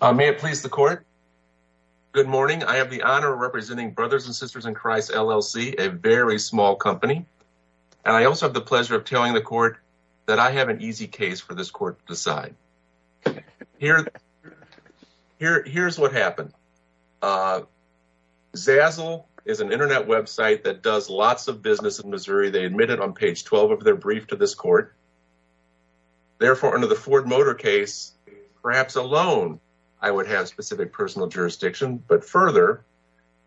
May it please the court. Good morning. I have the honor of representing Brothers and Sisters in Christ LLC, a very small company. And I also have the pleasure of telling the court that I have an easy case for this court to decide. Here's what happened. Zazzle is an internet website that does lots of business in Missouri. They admitted on page 12 of their brief to this court. Therefore, under the Ford Motor case, perhaps alone, I would have specific personal jurisdiction. But further,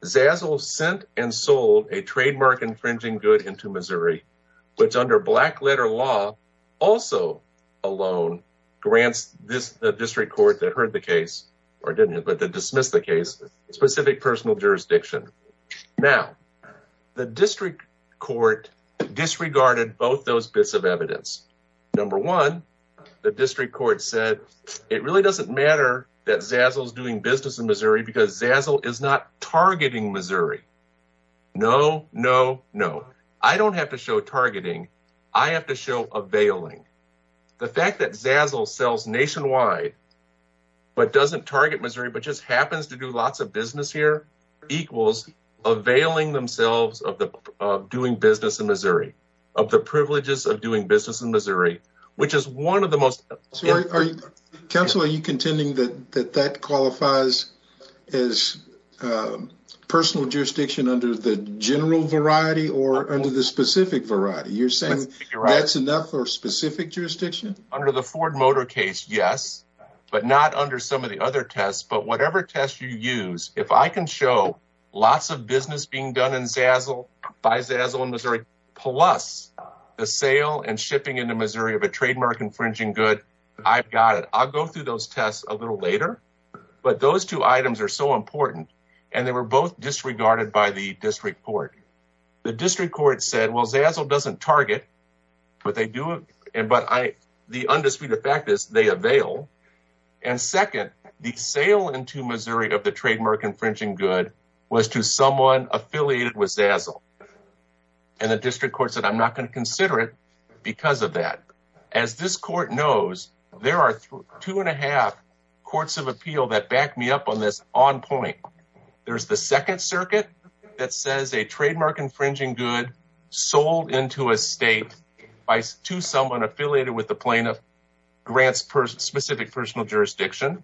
Zazzle sent and sold a trademark-infringing good into Missouri, which under black-letter law, also alone, grants the district court that heard the case, or didn't, but that dismissed the case, specific personal jurisdiction. Now, the district court disregarded both those bits of evidence. Number one, the district court said it really doesn't matter that Zazzle is doing business in Missouri because Zazzle is not targeting Missouri. No, no, no. I don't have to show targeting. I have to show availing. The fact that Zazzle sells nationwide, but doesn't target Missouri, but just happens to do lots of business here, equals availing themselves of doing business in Missouri, of the privileges of doing business in Missouri, which is one of the most… Counsel, are you contending that that qualifies as personal jurisdiction under the general variety or under the specific variety? You're saying that's enough for specific jurisdiction? Under the Ford Motor case, yes, but not under some of the other tests, but whatever test you use, if I can show lots of business being done in Zazzle, by Zazzle in Missouri, plus the sale and shipping into Missouri of a trademark-infringing good, I've got it. I'll go through those tests a little later, but those two items are so important, and they were both disregarded by the district court. The district court said, well, Zazzle doesn't target, but the undisputed fact is they avail, and second, the sale into Missouri of the trademark-infringing good was to someone affiliated with Zazzle, and the district court said, I'm not going to consider it because of that. As this court knows, there are two and a half courts of appeal that back me up on this on point. There's the Second Circuit that says a trademark-infringing good sold into a state to someone affiliated with the plaintiff grants specific personal jurisdiction.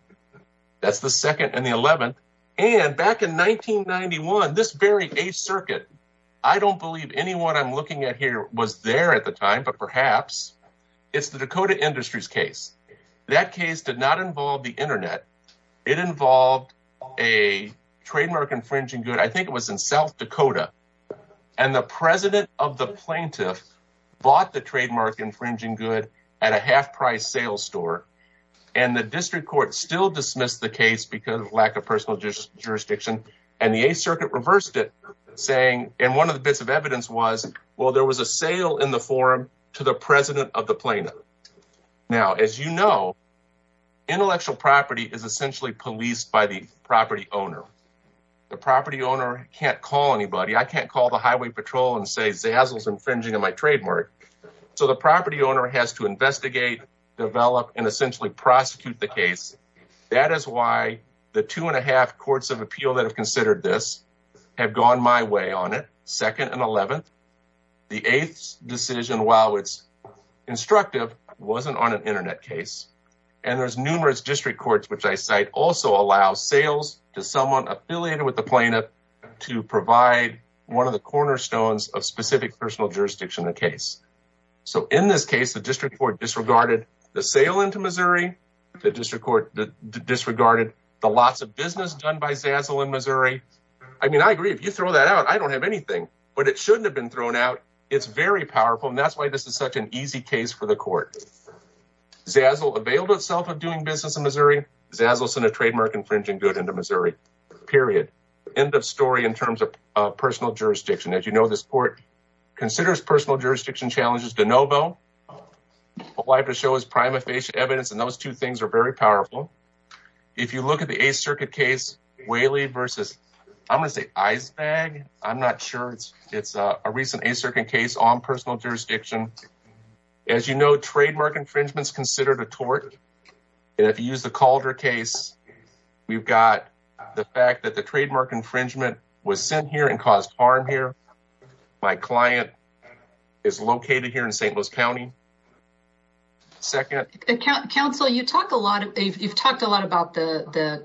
That's the second and the 11th, and back in 1991, this very 8th Circuit, I don't believe anyone I'm looking at here was there at the time, but perhaps it's the Dakota Industries case. That case did not involve the internet. It involved a trademark-infringing good. I think it was in South Dakota, and the president of the plaintiff bought the trademark-infringing good at a half-price sales store, and the district court still dismissed the case because of lack of personal jurisdiction, and the 8th Circuit reversed it, saying, and one of the bits of evidence was, well, there was a sale in the forum to the president of the plaintiff. Now, as you know, intellectual property is essentially policed by the property owner. The property owner can't call anybody. I can't call the highway patrol and say Zazzle's infringing on my trademark, so the property owner has to investigate, develop, and essentially prosecute the case. That is why the two-and-a-half courts of appeal that have considered this have gone my way on it, second and 11th. The 8th's decision, while it's instructive, wasn't on an internet case, and there's numerous district courts which I cite also allow sales to someone affiliated with the plaintiff to provide one of the cornerstones of specific personal jurisdiction in the case. So, in this case, the district court disregarded the sale into Missouri. The district court disregarded the lots of business done by Zazzle in Missouri. I mean, I agree, if you throw that out, I don't have anything, but it shouldn't have been thrown out. It's very powerful, and that's why this is such an easy case for the court. Zazzle availed itself of doing business in Missouri. Zazzle sent a trademark-infringing good into Missouri. Period. End of story in terms of personal jurisdiction. As you know, this court considers personal jurisdiction challenges de novo. What I have to show is prima facie evidence, and those two things are very powerful. If you look at the 8th Circuit case, Whaley versus, I'm going to say Icebag, I'm not sure. It's a recent 8th Circuit case on personal jurisdiction. As you know, trademark infringement is considered a tort, and if you use the Calder case, we've got the fact that the trademark infringement was sent here and caused harm here. My client is located here in St. Louis County. Second. Counsel, you've talked a lot about the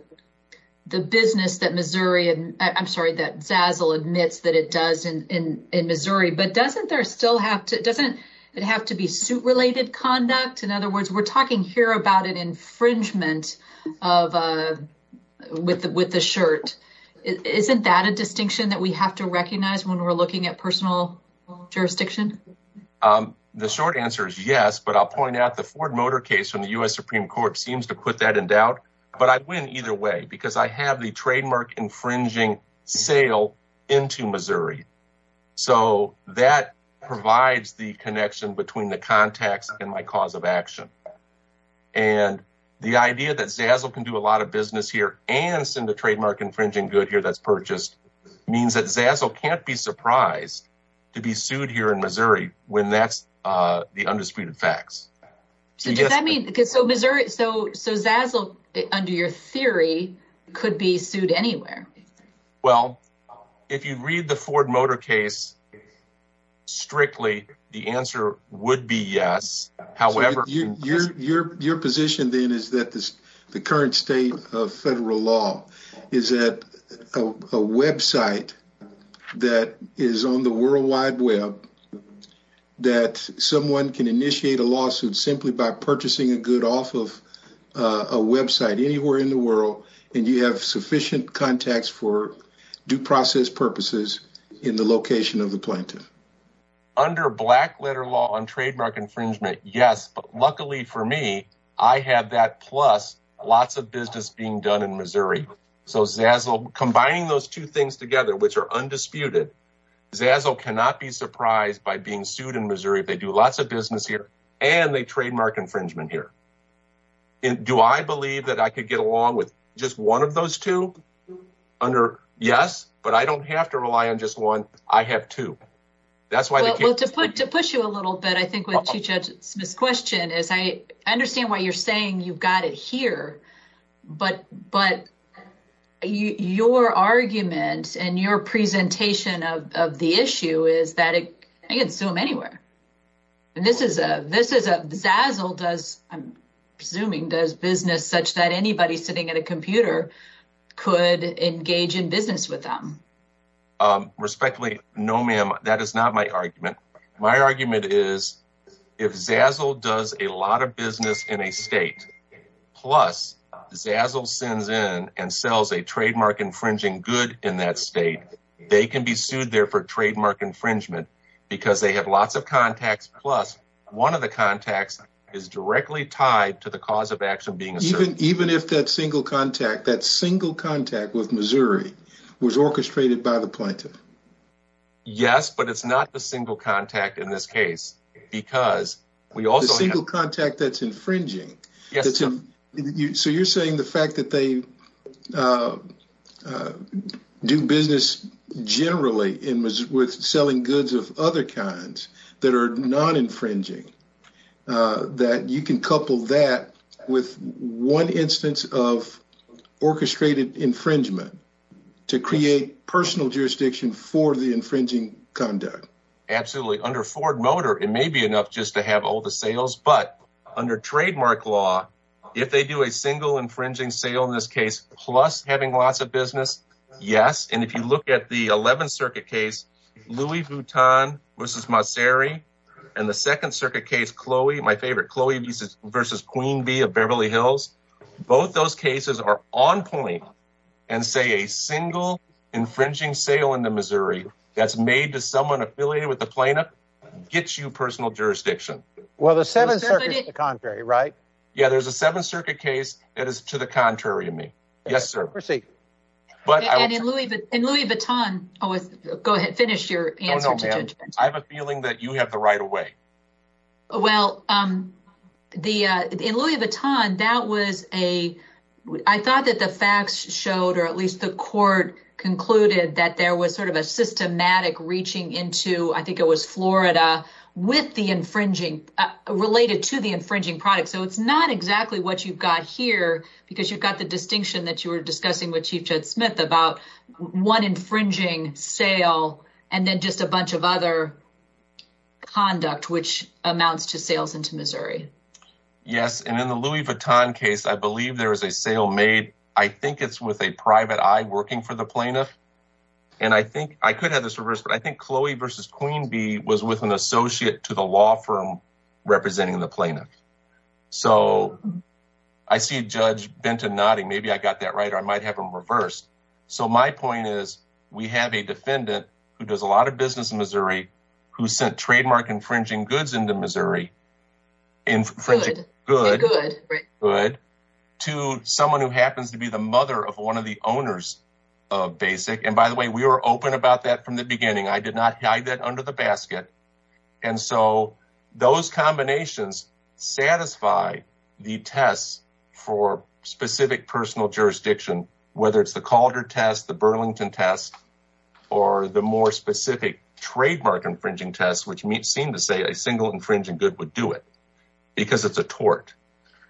business that Zazzle admits that it does in Missouri, but doesn't it have to be suit-related conduct? In other words, we're talking here about an infringement with the shirt. Isn't that a distinction that we have to recognize when we're looking at personal jurisdiction? The short answer is yes, but I'll point out the Ford Motor case from the U.S. Supreme Court seems to put that in doubt, but I win either way because I have the trademark-infringing sale into Missouri. So that provides the connection between the context and my cause of action, and the idea that Zazzle can do a lot of business here and send a trademark-infringing good here that's purchased means that Zazzle can't be surprised to be sued here in Missouri when that's the undisputed facts. So Zazzle, under your theory, could be sued anywhere? Well, if you read the Ford Motor case strictly, the answer would be yes. Your position, then, is that the current state of federal law is that a website that is on the World Wide Web that someone can initiate a lawsuit simply by purchasing a good off of a website anywhere in the world, and you have sufficient contacts for due process purposes in the location of the plaintiff? Under black-letter law on trademark infringement, yes, but luckily for me, I have that plus lots of business being done in Missouri. So Zazzle, combining those two things together, which are undisputed, Zazzle cannot be surprised by being sued in Missouri if they do lots of business here and they trademark infringement here. Do I believe that I could get along with just one of those two? Yes, but I don't have to rely on just one. I have two. Well, to push you a little bit, I think what you just misquestioned is I understand what you're saying. You've got it here, but your argument and your presentation of the issue is that I can sue them anywhere. And this is a Zazzle does, I'm assuming, does business such that anybody sitting at a computer could engage in business with them? Respectfully, no, ma'am. That is not my argument. My argument is if Zazzle does a lot of business in a state, plus Zazzle sends in and sells a trademark infringing good in that state, they can be sued there for trademark infringement because they have lots of contacts. Plus, one of the contacts is directly tied to the cause of action being even if that single contact, that single contact with Missouri was orchestrated by the plaintiff. Yes, but it's not a single contact in this case because we also have a single contact that's infringing. So you're saying the fact that they do business generally with selling goods of other kinds that are non-infringing, that you can couple that with one instance of orchestrated infringement to create personal jurisdiction for the infringing conduct? Absolutely. Under Ford Motor, it may be enough just to have all the sales, but under trademark law, if they do a single infringing sale in this case, plus having lots of business, yes. And if you look at the 11th Circuit case, Louis Vuitton v. Mosseri, and the 2nd Circuit case, Chloe, my favorite, Chloe v. Queen Bee of Beverly Hills, both those cases are on point and say a single infringing sale into Missouri that's made to someone affiliated with the plaintiff gets you personal jurisdiction. Well, the 7th Circuit is the contrary, right? Yeah, there's a 7th Circuit case that is to the contrary of me. Yes, sir. Proceed. And Louis Vuitton, go ahead, finish your answer. No, no, ma'am. I have a feeling that you have the right of way. Well, in Louis Vuitton, I thought that the facts showed, or at least the court concluded, that there was sort of a systematic reaching into, I think it was Florida, related to the infringing product. So it's not exactly what you've got here because you've got the distinction that you were discussing with Chief Judd Smith about one infringing sale and then just a bunch of other conduct, which amounts to sales into Missouri. Yes, and in the Louis Vuitton case, I believe there is a sale made. I think it's with a private eye working for the plaintiff. And I think I could have this reverse, but I think Chloe v. Queen Bee was with an associate to the law firm representing the plaintiff. So I see Judge Benton nodding. Maybe I got that right, or I might have them reversed. So my point is, we have a defendant who does a lot of business in Missouri who sent trademark infringing goods into Missouri, to someone who happens to be the mother of one of the owners of Basic. And by the way, we were open about that from the beginning. I did not hide that under the basket. And so those combinations satisfy the tests for specific personal jurisdiction, whether it's the Calder test, the Burlington test, or the more specific trademark infringing tests, which seem to say a single infringing good would do it because it's a tort.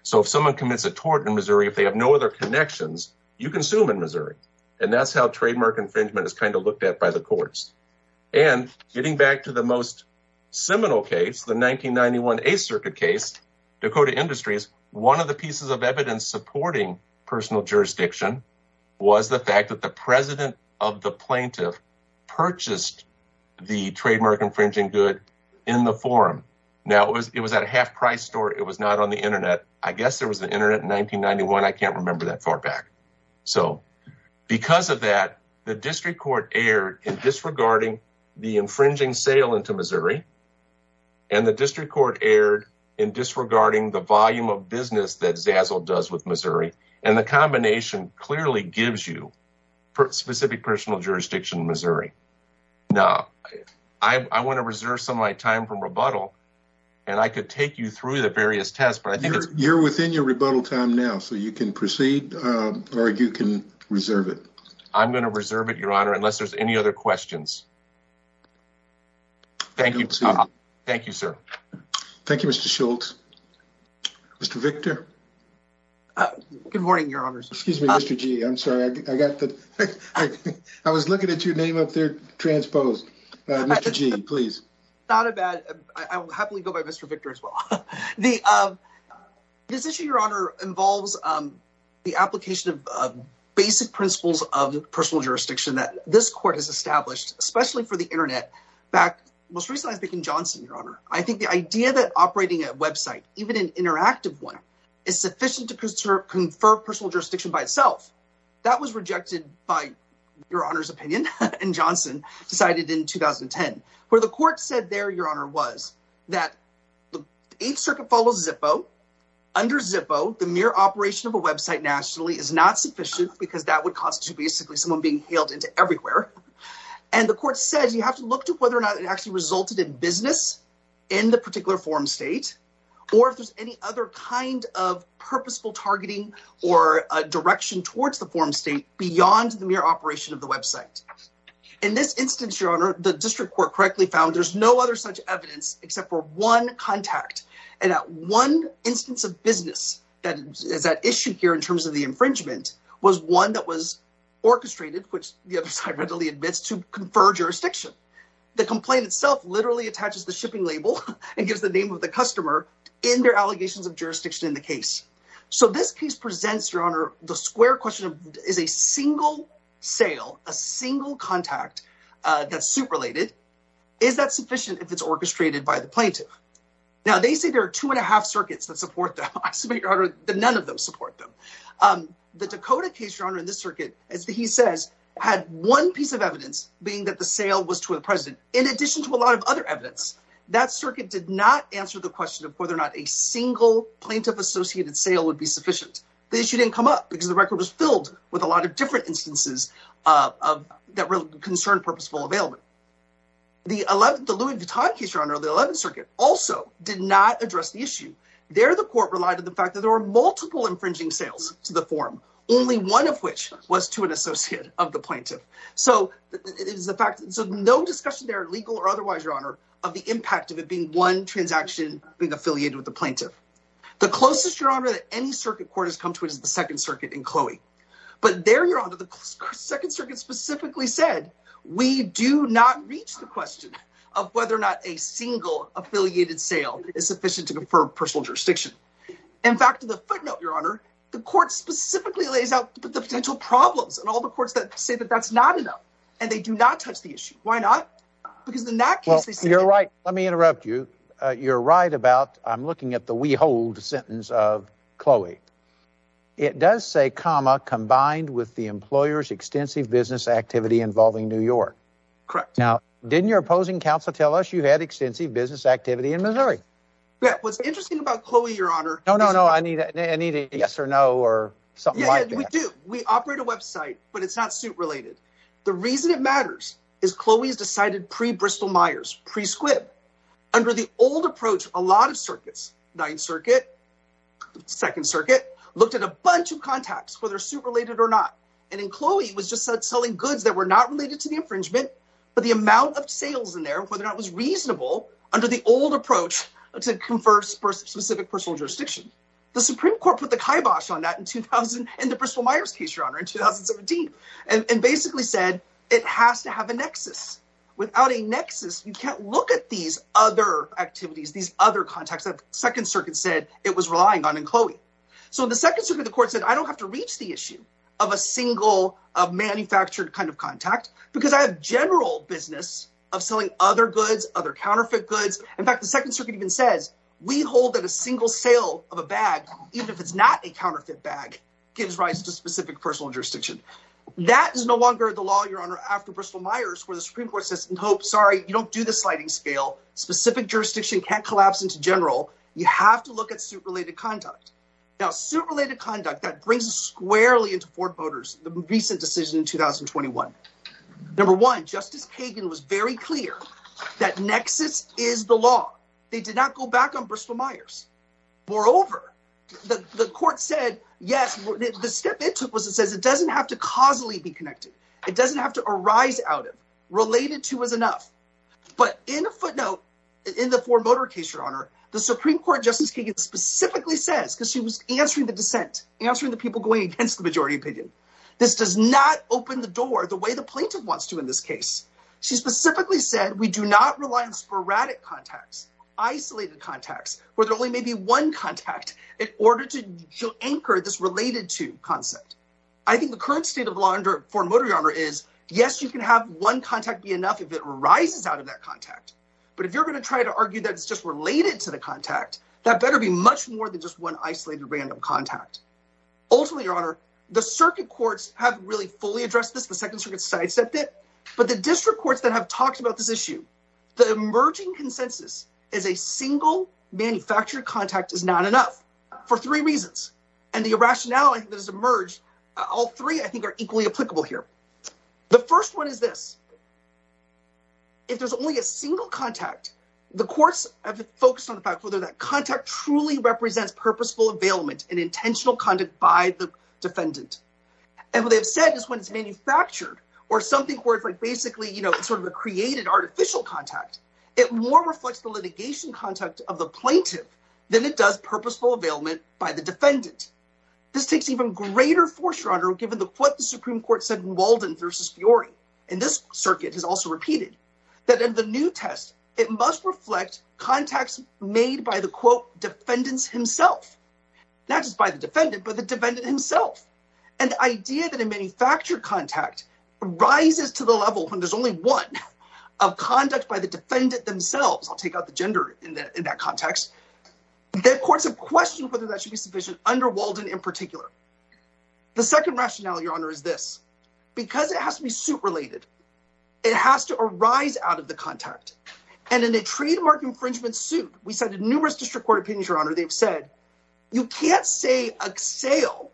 So if someone commits a tort in Missouri, if they have no other connections, you can sue them in Missouri. And that's how trademark infringement is kind of looked at by the courts. And getting back to the most seminal case, the 1991 8th Circuit case, Dakota Industries, one of the pieces of evidence supporting personal jurisdiction was the fact that the president of the plaintiff purchased the trademark infringing good in the forum. Now, it was at a half price store. It was not on the Internet. I guess there was the Internet in 1991. I can't remember that far back. So because of that, the district court erred in disregarding the infringing sale into Missouri, and the district court erred in disregarding the volume of business that Zazzle does with Missouri. And the combination clearly gives you specific personal jurisdiction in Missouri. Now, I want to reserve some of my time from rebuttal, and I could take you through the various tests. You're within your rebuttal time now, so you can proceed, or you can reserve it. I'm going to reserve it, Your Honor, unless there's any other questions. Thank you, sir. Thank you, Mr. Schultz. Mr. Victor? Good morning, Your Honors. Excuse me, Mr. G, I'm sorry. I was looking at your name up there transposed. Mr. G, please. Not a bad. I'll happily go by Mr. Victor as well. This issue, Your Honor, involves the application of basic principles of personal jurisdiction that this court has established, especially for the Internet. Most recently, I was thinking Johnson, Your Honor. I think the idea that operating a website, even an interactive one, is sufficient to confer personal jurisdiction by itself. That was rejected by Your Honor's opinion, and Johnson decided in 2010. Where the court said there, Your Honor, was that the Eighth Circuit follows Zippo. Under Zippo, the mere operation of a website nationally is not sufficient because that would constitute basically someone being hailed into everywhere. And the court says you have to look to whether or not it actually resulted in business in the particular forum state, or if there's any other kind of purposeful targeting or direction towards the forum state beyond the mere operation of the website. In this instance, Your Honor, the district court correctly found there's no other such evidence except for one contact. And that one instance of business that is at issue here in terms of the infringement was one that was orchestrated, which the other side readily admits, to confer jurisdiction. The complaint itself literally attaches the shipping label and gives the name of the customer in their allegations of jurisdiction in the case. So this case presents, Your Honor, the square question of is a single sale, a single contact that's suit-related, is that sufficient if it's orchestrated by the plaintiff? Now, they say there are two and a half circuits that support them. I submit, Your Honor, that none of them support them. The Dakota case, Your Honor, in this circuit, as he says, had one piece of evidence being that the sale was to a president, in addition to a lot of other evidence. That circuit did not answer the question of whether or not a single plaintiff-associated sale would be sufficient. The issue didn't come up because the record was filled with a lot of different instances that concern purposeful availment. The Louis Vuitton case, Your Honor, the 11th circuit, also did not address the issue. There, the court relied on the fact that there were multiple infringing sales to the forum, only one of which was to an associate of the plaintiff. So no discussion there, legal or otherwise, Your Honor, of the impact of it being one transaction being affiliated with the plaintiff. The closest, Your Honor, that any circuit court has come to it is the Second Circuit in Chloe. But there, Your Honor, the Second Circuit specifically said, we do not reach the question of whether or not a single-affiliated sale is sufficient to confirm personal jurisdiction. In fact, in the footnote, Your Honor, the court specifically lays out the potential problems and all the courts that say that that's not enough. And they do not touch the issue. Why not? Because in that case, they say- Well, you're right. Let me interrupt you. You're right about, I'm looking at the we hold sentence of Chloe. It does say, comma, combined with the employer's extensive business activity involving New York. Correct. Now, didn't your opposing counsel tell us you had extensive business activity in Missouri? Yeah. What's interesting about Chloe, Your Honor- No, no, no. I need a yes or no or something like that. Yeah, we do. We operate a website, but it's not suit-related. The reason it matters is Chloe's decided pre-Bristol-Myers, pre-Squibb. Under the old approach, a lot of circuits, 9th Circuit, 2nd Circuit, looked at a bunch of contacts, whether suit-related or not. And in Chloe, it was just selling goods that were not related to the infringement, but the amount of sales in there, whether or not it was reasonable, under the old approach, to confer specific personal jurisdiction. The Supreme Court put the kibosh on that in the Bristol-Myers case, Your Honor, in 2017, and basically said it has to have a nexus. Without a nexus, you can't look at these other activities, these other contacts that the 2nd Circuit said it was relying on in Chloe. So in the 2nd Circuit, the court said, I don't have to reach the issue of a single manufactured kind of contact because I have general business of selling other goods, other counterfeit goods. In fact, the 2nd Circuit even says, we hold that a single sale of a bag, even if it's not a counterfeit bag, gives rise to specific personal jurisdiction. That is no longer the law, Your Honor, after Bristol-Myers, where the Supreme Court says, nope, sorry, you don't do the sliding scale, specific jurisdiction can't collapse into general. You have to look at suit-related conduct. Now, suit-related conduct, that brings us squarely into Ford Motor's recent decision in 2021. Number one, Justice Kagan was very clear that nexus is the law. They did not go back on Bristol-Myers. Moreover, the court said, yes, the step it took was it says it doesn't have to causally be connected. It doesn't have to arise out of, related to is enough. But in a footnote, in the Ford Motor case, Your Honor, the Supreme Court, Justice Kagan specifically says, because she was answering the dissent, answering the people going against the majority opinion. This does not open the door the way the plaintiff wants to in this case. She specifically said, we do not rely on sporadic contacts, isolated contacts, where there only may be one contact in order to anchor this related to concept. I think the current state of law under Ford Motor, Your Honor, is, yes, you can have one contact be enough if it arises out of that contact. But if you're going to try to argue that it's just related to the contact, that better be much more than just one isolated random contact. Ultimately, Your Honor, the circuit courts have really fully addressed this. The Second Circuit sidestepped it. But the district courts that have talked about this issue, the emerging consensus is a single manufactured contact is not enough for three reasons. And the irrationality that has emerged, all three, I think, are equally applicable here. The first one is this. If there's only a single contact, the courts have focused on the fact whether that contact truly represents purposeful availment and intentional conduct by the defendant. And what they've said is when it's manufactured or something where it's like basically, you know, sort of a created artificial contact, it more reflects the litigation contact of the plaintiff than it does purposeful availment by the defendant. This takes even greater foreshadowing given what the Supreme Court said in Walden v. Fiori. And this circuit has also repeated that in the new test, it must reflect contacts made by the, quote, defendants himself. Not just by the defendant, but the defendant himself. And the idea that a manufactured contact rises to the level when there's only one of conduct by the defendant themselves, I'll take out the gender in that context. The courts have questioned whether that should be sufficient under Walden in particular. The second rationale, Your Honor, is this. Because it has to be suit-related, it has to arise out of the contact. And in a trademark infringement suit, we cited numerous district court opinions, Your Honor, they've said, you can't say a sale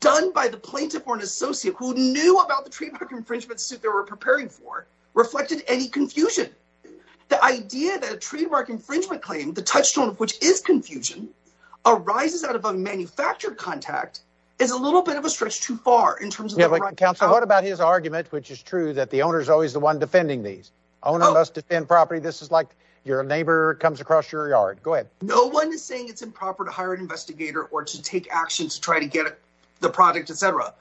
done by the plaintiff or an associate who knew about the trademark infringement suit they were preparing for reflected any confusion. The idea that a trademark infringement claim, the touchstone of which is confusion, arises out of a manufactured contact is a little bit of a stretch too far in terms of the right to- Counsel, what about his argument, which is true, that the owner is always the one defending these? Owner must defend property, this is like your neighbor comes across your yard. Go ahead. No one is saying it's improper to hire an investigator or to take action to try to get the product, etc.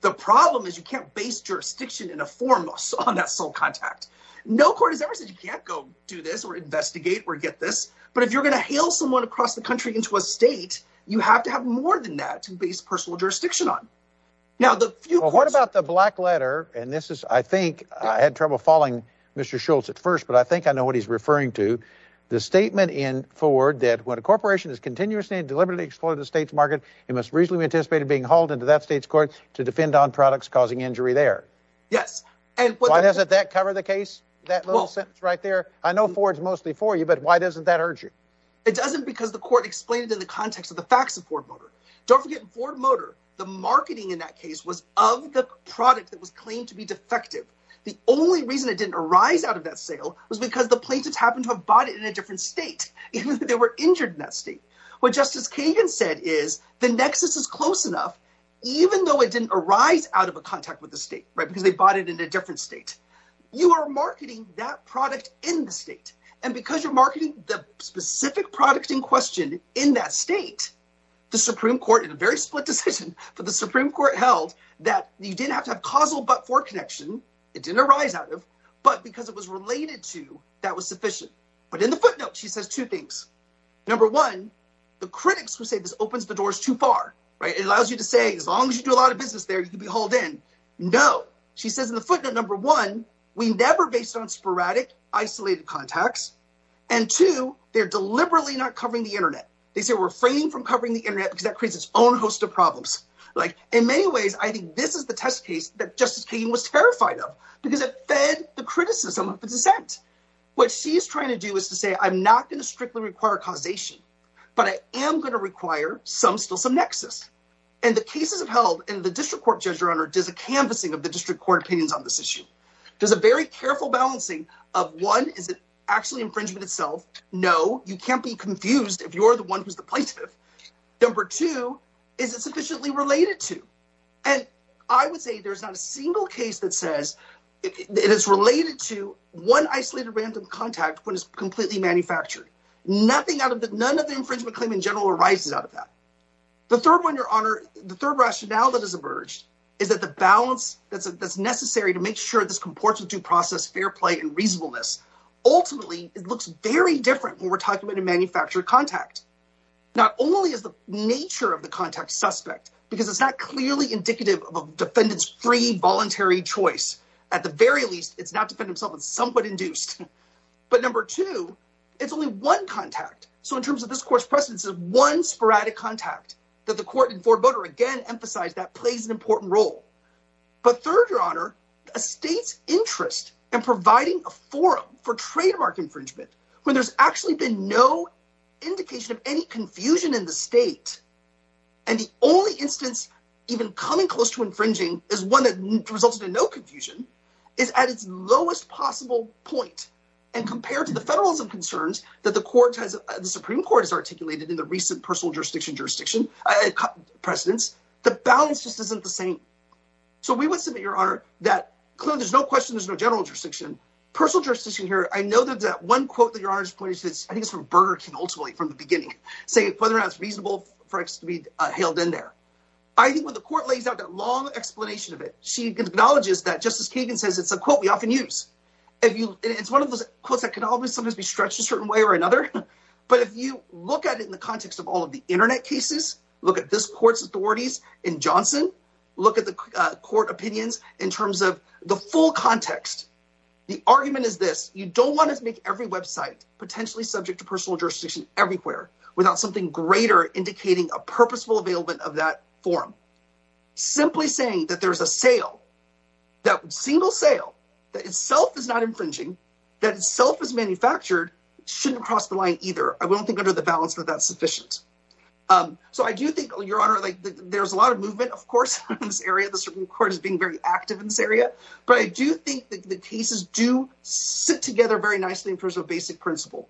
The problem is you can't base jurisdiction in a forum on that sole contact. No court has ever said you can't go do this or investigate or get this. But if you're going to hail someone across the country into a state, you have to have more than that to base personal jurisdiction on. What about the black letter, and this is, I think, I had trouble following Mr. Schultz at first, but I think I know what he's referring to. The statement in Ford that when a corporation is continuously and deliberately exploiting the state's market, it must reasonably be anticipated being hauled into that state's court to defend on products causing injury there. Yes. Why doesn't that cover the case, that little sentence right there? I know Ford's mostly for you, but why doesn't that urge you? It doesn't because the court explained it in the context of the facts of Ford Motor. Don't forget, Ford Motor, the marketing in that case was of the product that was claimed to be defective. The only reason it didn't arise out of that sale was because the plaintiffs happened to have bought it in a different state. They were injured in that state. What Justice Kagan said is the nexus is close enough, even though it didn't arise out of a contact with the state, because they bought it in a different state. You are marketing that product in the state, and because you're marketing the specific product in question in that state, the Supreme Court, in a very split decision, but the Supreme Court held that you didn't have to have causal but-for connection. It didn't arise out of, but because it was related to, that was sufficient. But in the footnote, she says two things. Number one, the critics who say this opens the doors too far. It allows you to say, as long as you do a lot of business there, you can be hauled in. No, she says in the footnote, number one, we never based on sporadic, isolated contacts, and two, they're deliberately not covering the internet. They say we're refraining from covering the internet because that creates its own host of problems. In many ways, I think this is the test case that Justice Kagan was terrified of because it fed the criticism of the dissent. What she's trying to do is to say, I'm not going to strictly require causation, but I am going to require some still some nexus. And the cases have held, and the district court judge, your honor, does a canvassing of the district court opinions on this issue. Does a very careful balancing of, one, is it actually infringement itself? No. You can't be confused if you're the one who's the plaintiff. Number two, is it sufficiently related to? And I would say there's not a single case that says it is related to one isolated random contact when it's completely manufactured. None of the infringement claim in general arises out of that. The third one, your honor, the third rationale that has emerged is that the balance that's necessary to make sure this comports with due process, fair play, and reasonableness. Ultimately, it looks very different when we're talking about a manufactured contact. Not only is the nature of the contact suspect, because it's not clearly indicative of a defendant's free, voluntary choice. At the very least, it's not defendant himself, it's somewhat induced. But number two, it's only one contact. So in terms of this court's precedence, it's one sporadic contact that the court and Ford Voter again emphasize that plays an important role. But third, your honor, a state's interest in providing a forum for trademark infringement when there's actually been no indication of any confusion in the state. And the only instance even coming close to infringing is one that resulted in no confusion is at its lowest possible point. And compared to the federalism concerns that the court has, the Supreme Court has articulated in the recent personal jurisdiction, jurisdiction precedence, the balance just isn't the same. So we would submit, your honor, that there's no question there's no general jurisdiction, personal jurisdiction here. I know that that one quote that your honor's point is, I think it's from Burger King, ultimately, from the beginning, saying whether or not it's reasonable for it to be hailed in there. I think when the court lays out that long explanation of it, she acknowledges that Justice Kagan says it's a quote we often use. It's one of those quotes that can always sometimes be stretched a certain way or another. But if you look at it in the context of all of the Internet cases, look at this court's authorities in Johnson, look at the court opinions in terms of the full context. The argument is this. You don't want to make every website potentially subject to personal jurisdiction everywhere without something greater indicating a purposeful availment of that forum. Simply saying that there's a sale, that single sale that itself is not infringing, that itself is manufactured, shouldn't cross the line either. I won't think under the balance that that's sufficient. So I do think, your honor, there's a lot of movement, of course, in this area. The Supreme Court is being very active in this area. But I do think that the cases do sit together very nicely in terms of basic principle.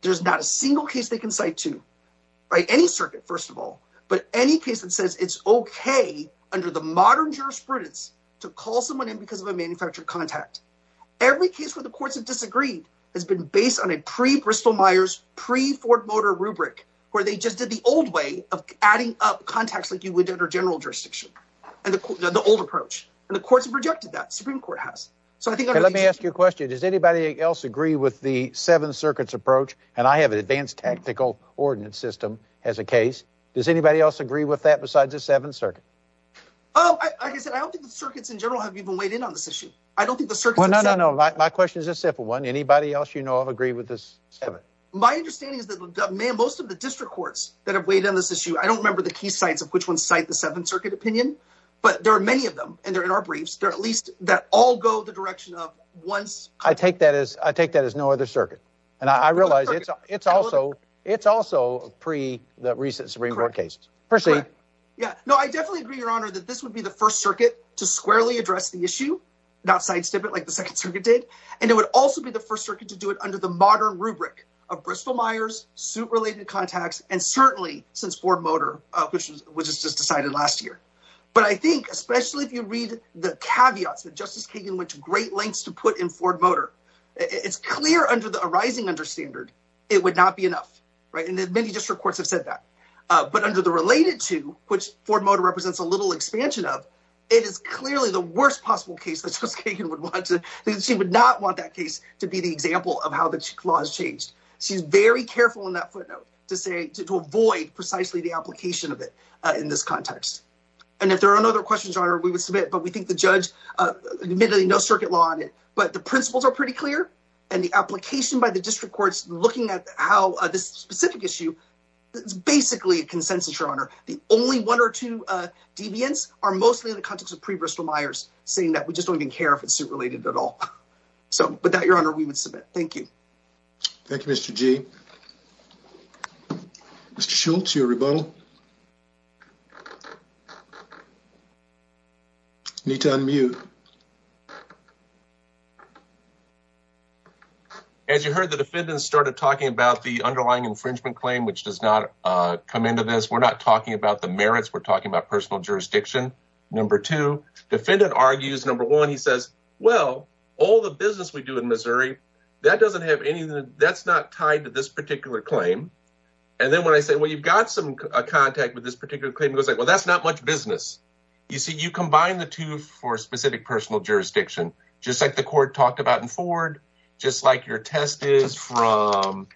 There's not a single case they can cite to. Any circuit, first of all. But any case that says it's okay under the modern jurisprudence to call someone in because of a manufactured contact. Every case where the courts have disagreed has been based on a pre-Bristol Myers, pre-Ford Motor rubric where they just did the old way of adding up contacts like you would under general jurisdiction. The old approach. And the courts have rejected that. The Supreme Court has. Let me ask you a question. Does anybody else agree with the seven circuits approach? And I have an advanced tactical ordinance system as a case. Does anybody else agree with that besides the seventh circuit? Like I said, I don't think the circuits in general have even weighed in on this issue. Well, no, no, no. My question is a simple one. Anybody else you know of agree with this? My understanding is that most of the district courts that have weighed in on this issue, I don't remember the key sites of which ones cite the seventh circuit opinion. But there are many of them. And they're in our briefs. They're at least that all go the direction of once. I take that as I take that as no other circuit. And I realize it's it's also it's also pre the recent Supreme Court case. Yeah, no, I definitely agree, Your Honor, that this would be the first circuit to squarely address the issue, not sidestep it like the second circuit did. And it would also be the first circuit to do it under the modern rubric of Bristol Myers, suit related contacts. And certainly since Ford Motor, which was just decided last year. But I think especially if you read the caveats that Justice Kagan went to great lengths to put in Ford Motor, it's clear under the arising understander, it would not be enough. Right. And many district courts have said that. But under the related to which Ford Motor represents a little expansion of, it is clearly the worst possible case. She would not want that case to be the example of how the law has changed. She's very careful in that footnote to say to avoid precisely the application of it in this context. And if there are no other questions on her, we would submit. But we think the judge admittedly no circuit law on it. But the principles are pretty clear and the application by the district courts looking at how this specific issue is basically a consensus, Your Honor. The only one or two deviants are mostly in the context of pre-Bristol Myers saying that we just don't even care if it's related at all. So, but that, Your Honor, we would submit. Thank you. Thank you, Mr. G. Mr. Schultz, your rebuttal. Nita, unmute. As you heard, the defendants started talking about the underlying infringement claim, which does not come into this. We're not talking about the merits. We're talking about personal jurisdiction. Number two defendant argues. Number one, he says, well, all the business we do in Missouri, that doesn't have anything. That's not tied to this particular claim. And then when I say, well, you've got some contact with this particular claim, it was like, well, that's not much business. You see, you combine the two for specific personal jurisdiction, just like the court talked about in Ford, just like your test is from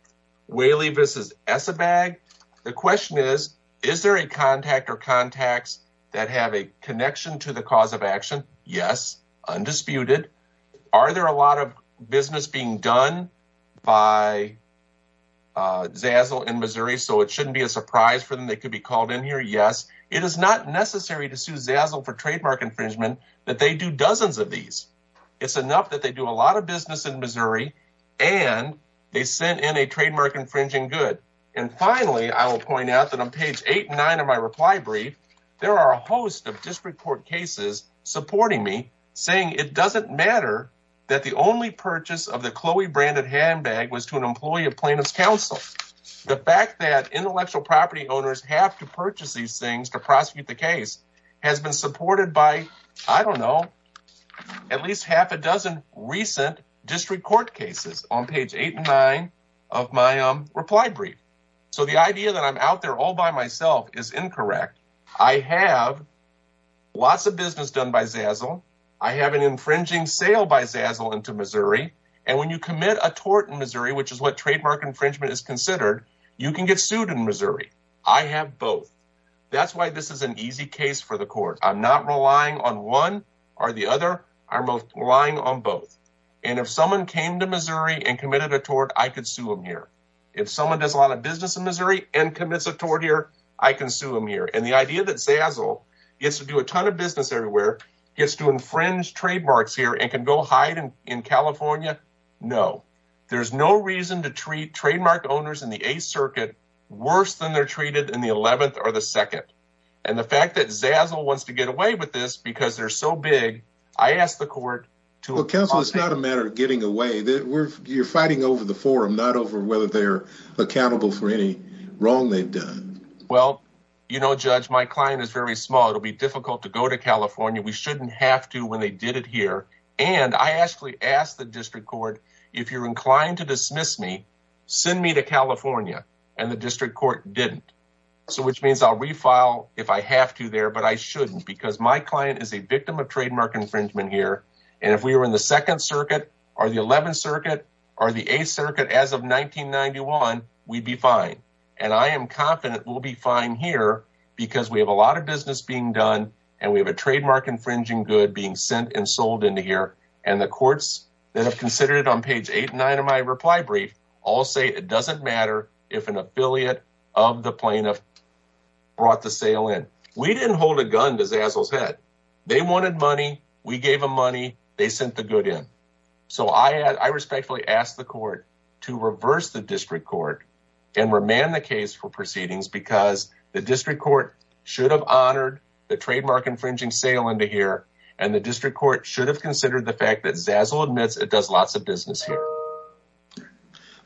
Whaley versus Esabag. The question is, is there a contact or contacts that have a connection to the cause of action? Yes. Undisputed. Are there a lot of business being done by Zazzle in Missouri, so it shouldn't be a surprise for them. They could be called in here. Yes. It is not necessary to sue Zazzle for trademark infringement that they do dozens of these. It's enough that they do a lot of business in Missouri and they sent in a trademark infringing good. And finally, I will point out that on page eight and nine of my reply brief, there are a host of district court cases supporting me saying it doesn't matter that the only purchase of the Chloe branded handbag was to an employee of plaintiff's counsel. The fact that intellectual property owners have to purchase these things to prosecute the case has been supported by, I don't know, at least half a dozen recent district court cases on page eight and nine of my reply brief. So the idea that I'm out there all by myself is incorrect. I have lots of business done by Zazzle. I have an infringing sale by Zazzle into Missouri. And when you commit a tort in Missouri, which is what trademark infringement is considered, you can get sued in Missouri. I have both. That's why this is an easy case for the court. I'm not relying on one or the other. I'm relying on both. And if someone came to Missouri and committed a tort, I could sue them here. If someone does a lot of business in Missouri and commits a tort here, I can sue them here. And the idea that Zazzle gets to do a ton of business everywhere, gets to infringe trademarks here and can go hide in California. No, there's no reason to treat trademark owners in the Eighth Circuit worse than they're treated in the 11th or the second. And the fact that Zazzle wants to get away with this because they're so big. I asked the court to counsel. It's not a matter of getting away. You're fighting over the forum, not over whether they're accountable for any wrong they've done. Well, you know, Judge, my client is very small. It'll be difficult to go to California. We shouldn't have to when they did it here. And I actually asked the district court, if you're inclined to dismiss me, send me to California. And the district court didn't. So which means I'll refile if I have to there, but I shouldn't because my client is a victim of trademark infringement here. And if we were in the Second Circuit or the 11th Circuit or the Eighth Circuit as of 1991, we'd be fine. And I am confident we'll be fine here because we have a lot of business being done and we have a trademark infringing good being sent and sold into here. And the courts that have considered it on page eight and nine of my reply brief all say it doesn't matter if an affiliate of the plaintiff brought the sale in. We didn't hold a gun to Zazzle's head. They wanted money. We gave them money. They sent the good in. So I respectfully ask the court to reverse the district court and remand the case for proceedings because the district court should have honored the trademark infringing sale into here and the district court should have considered the fact that Zazzle admits it does lots of business here.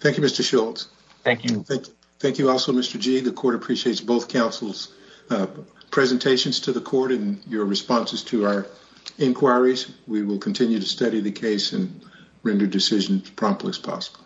Thank you, Mr. Schultz. Thank you. Thank you. Also, Mr. G, the court appreciates both councils presentations to the court and your responses to our inquiries. We will continue to study the case and render decisions promptly as possible.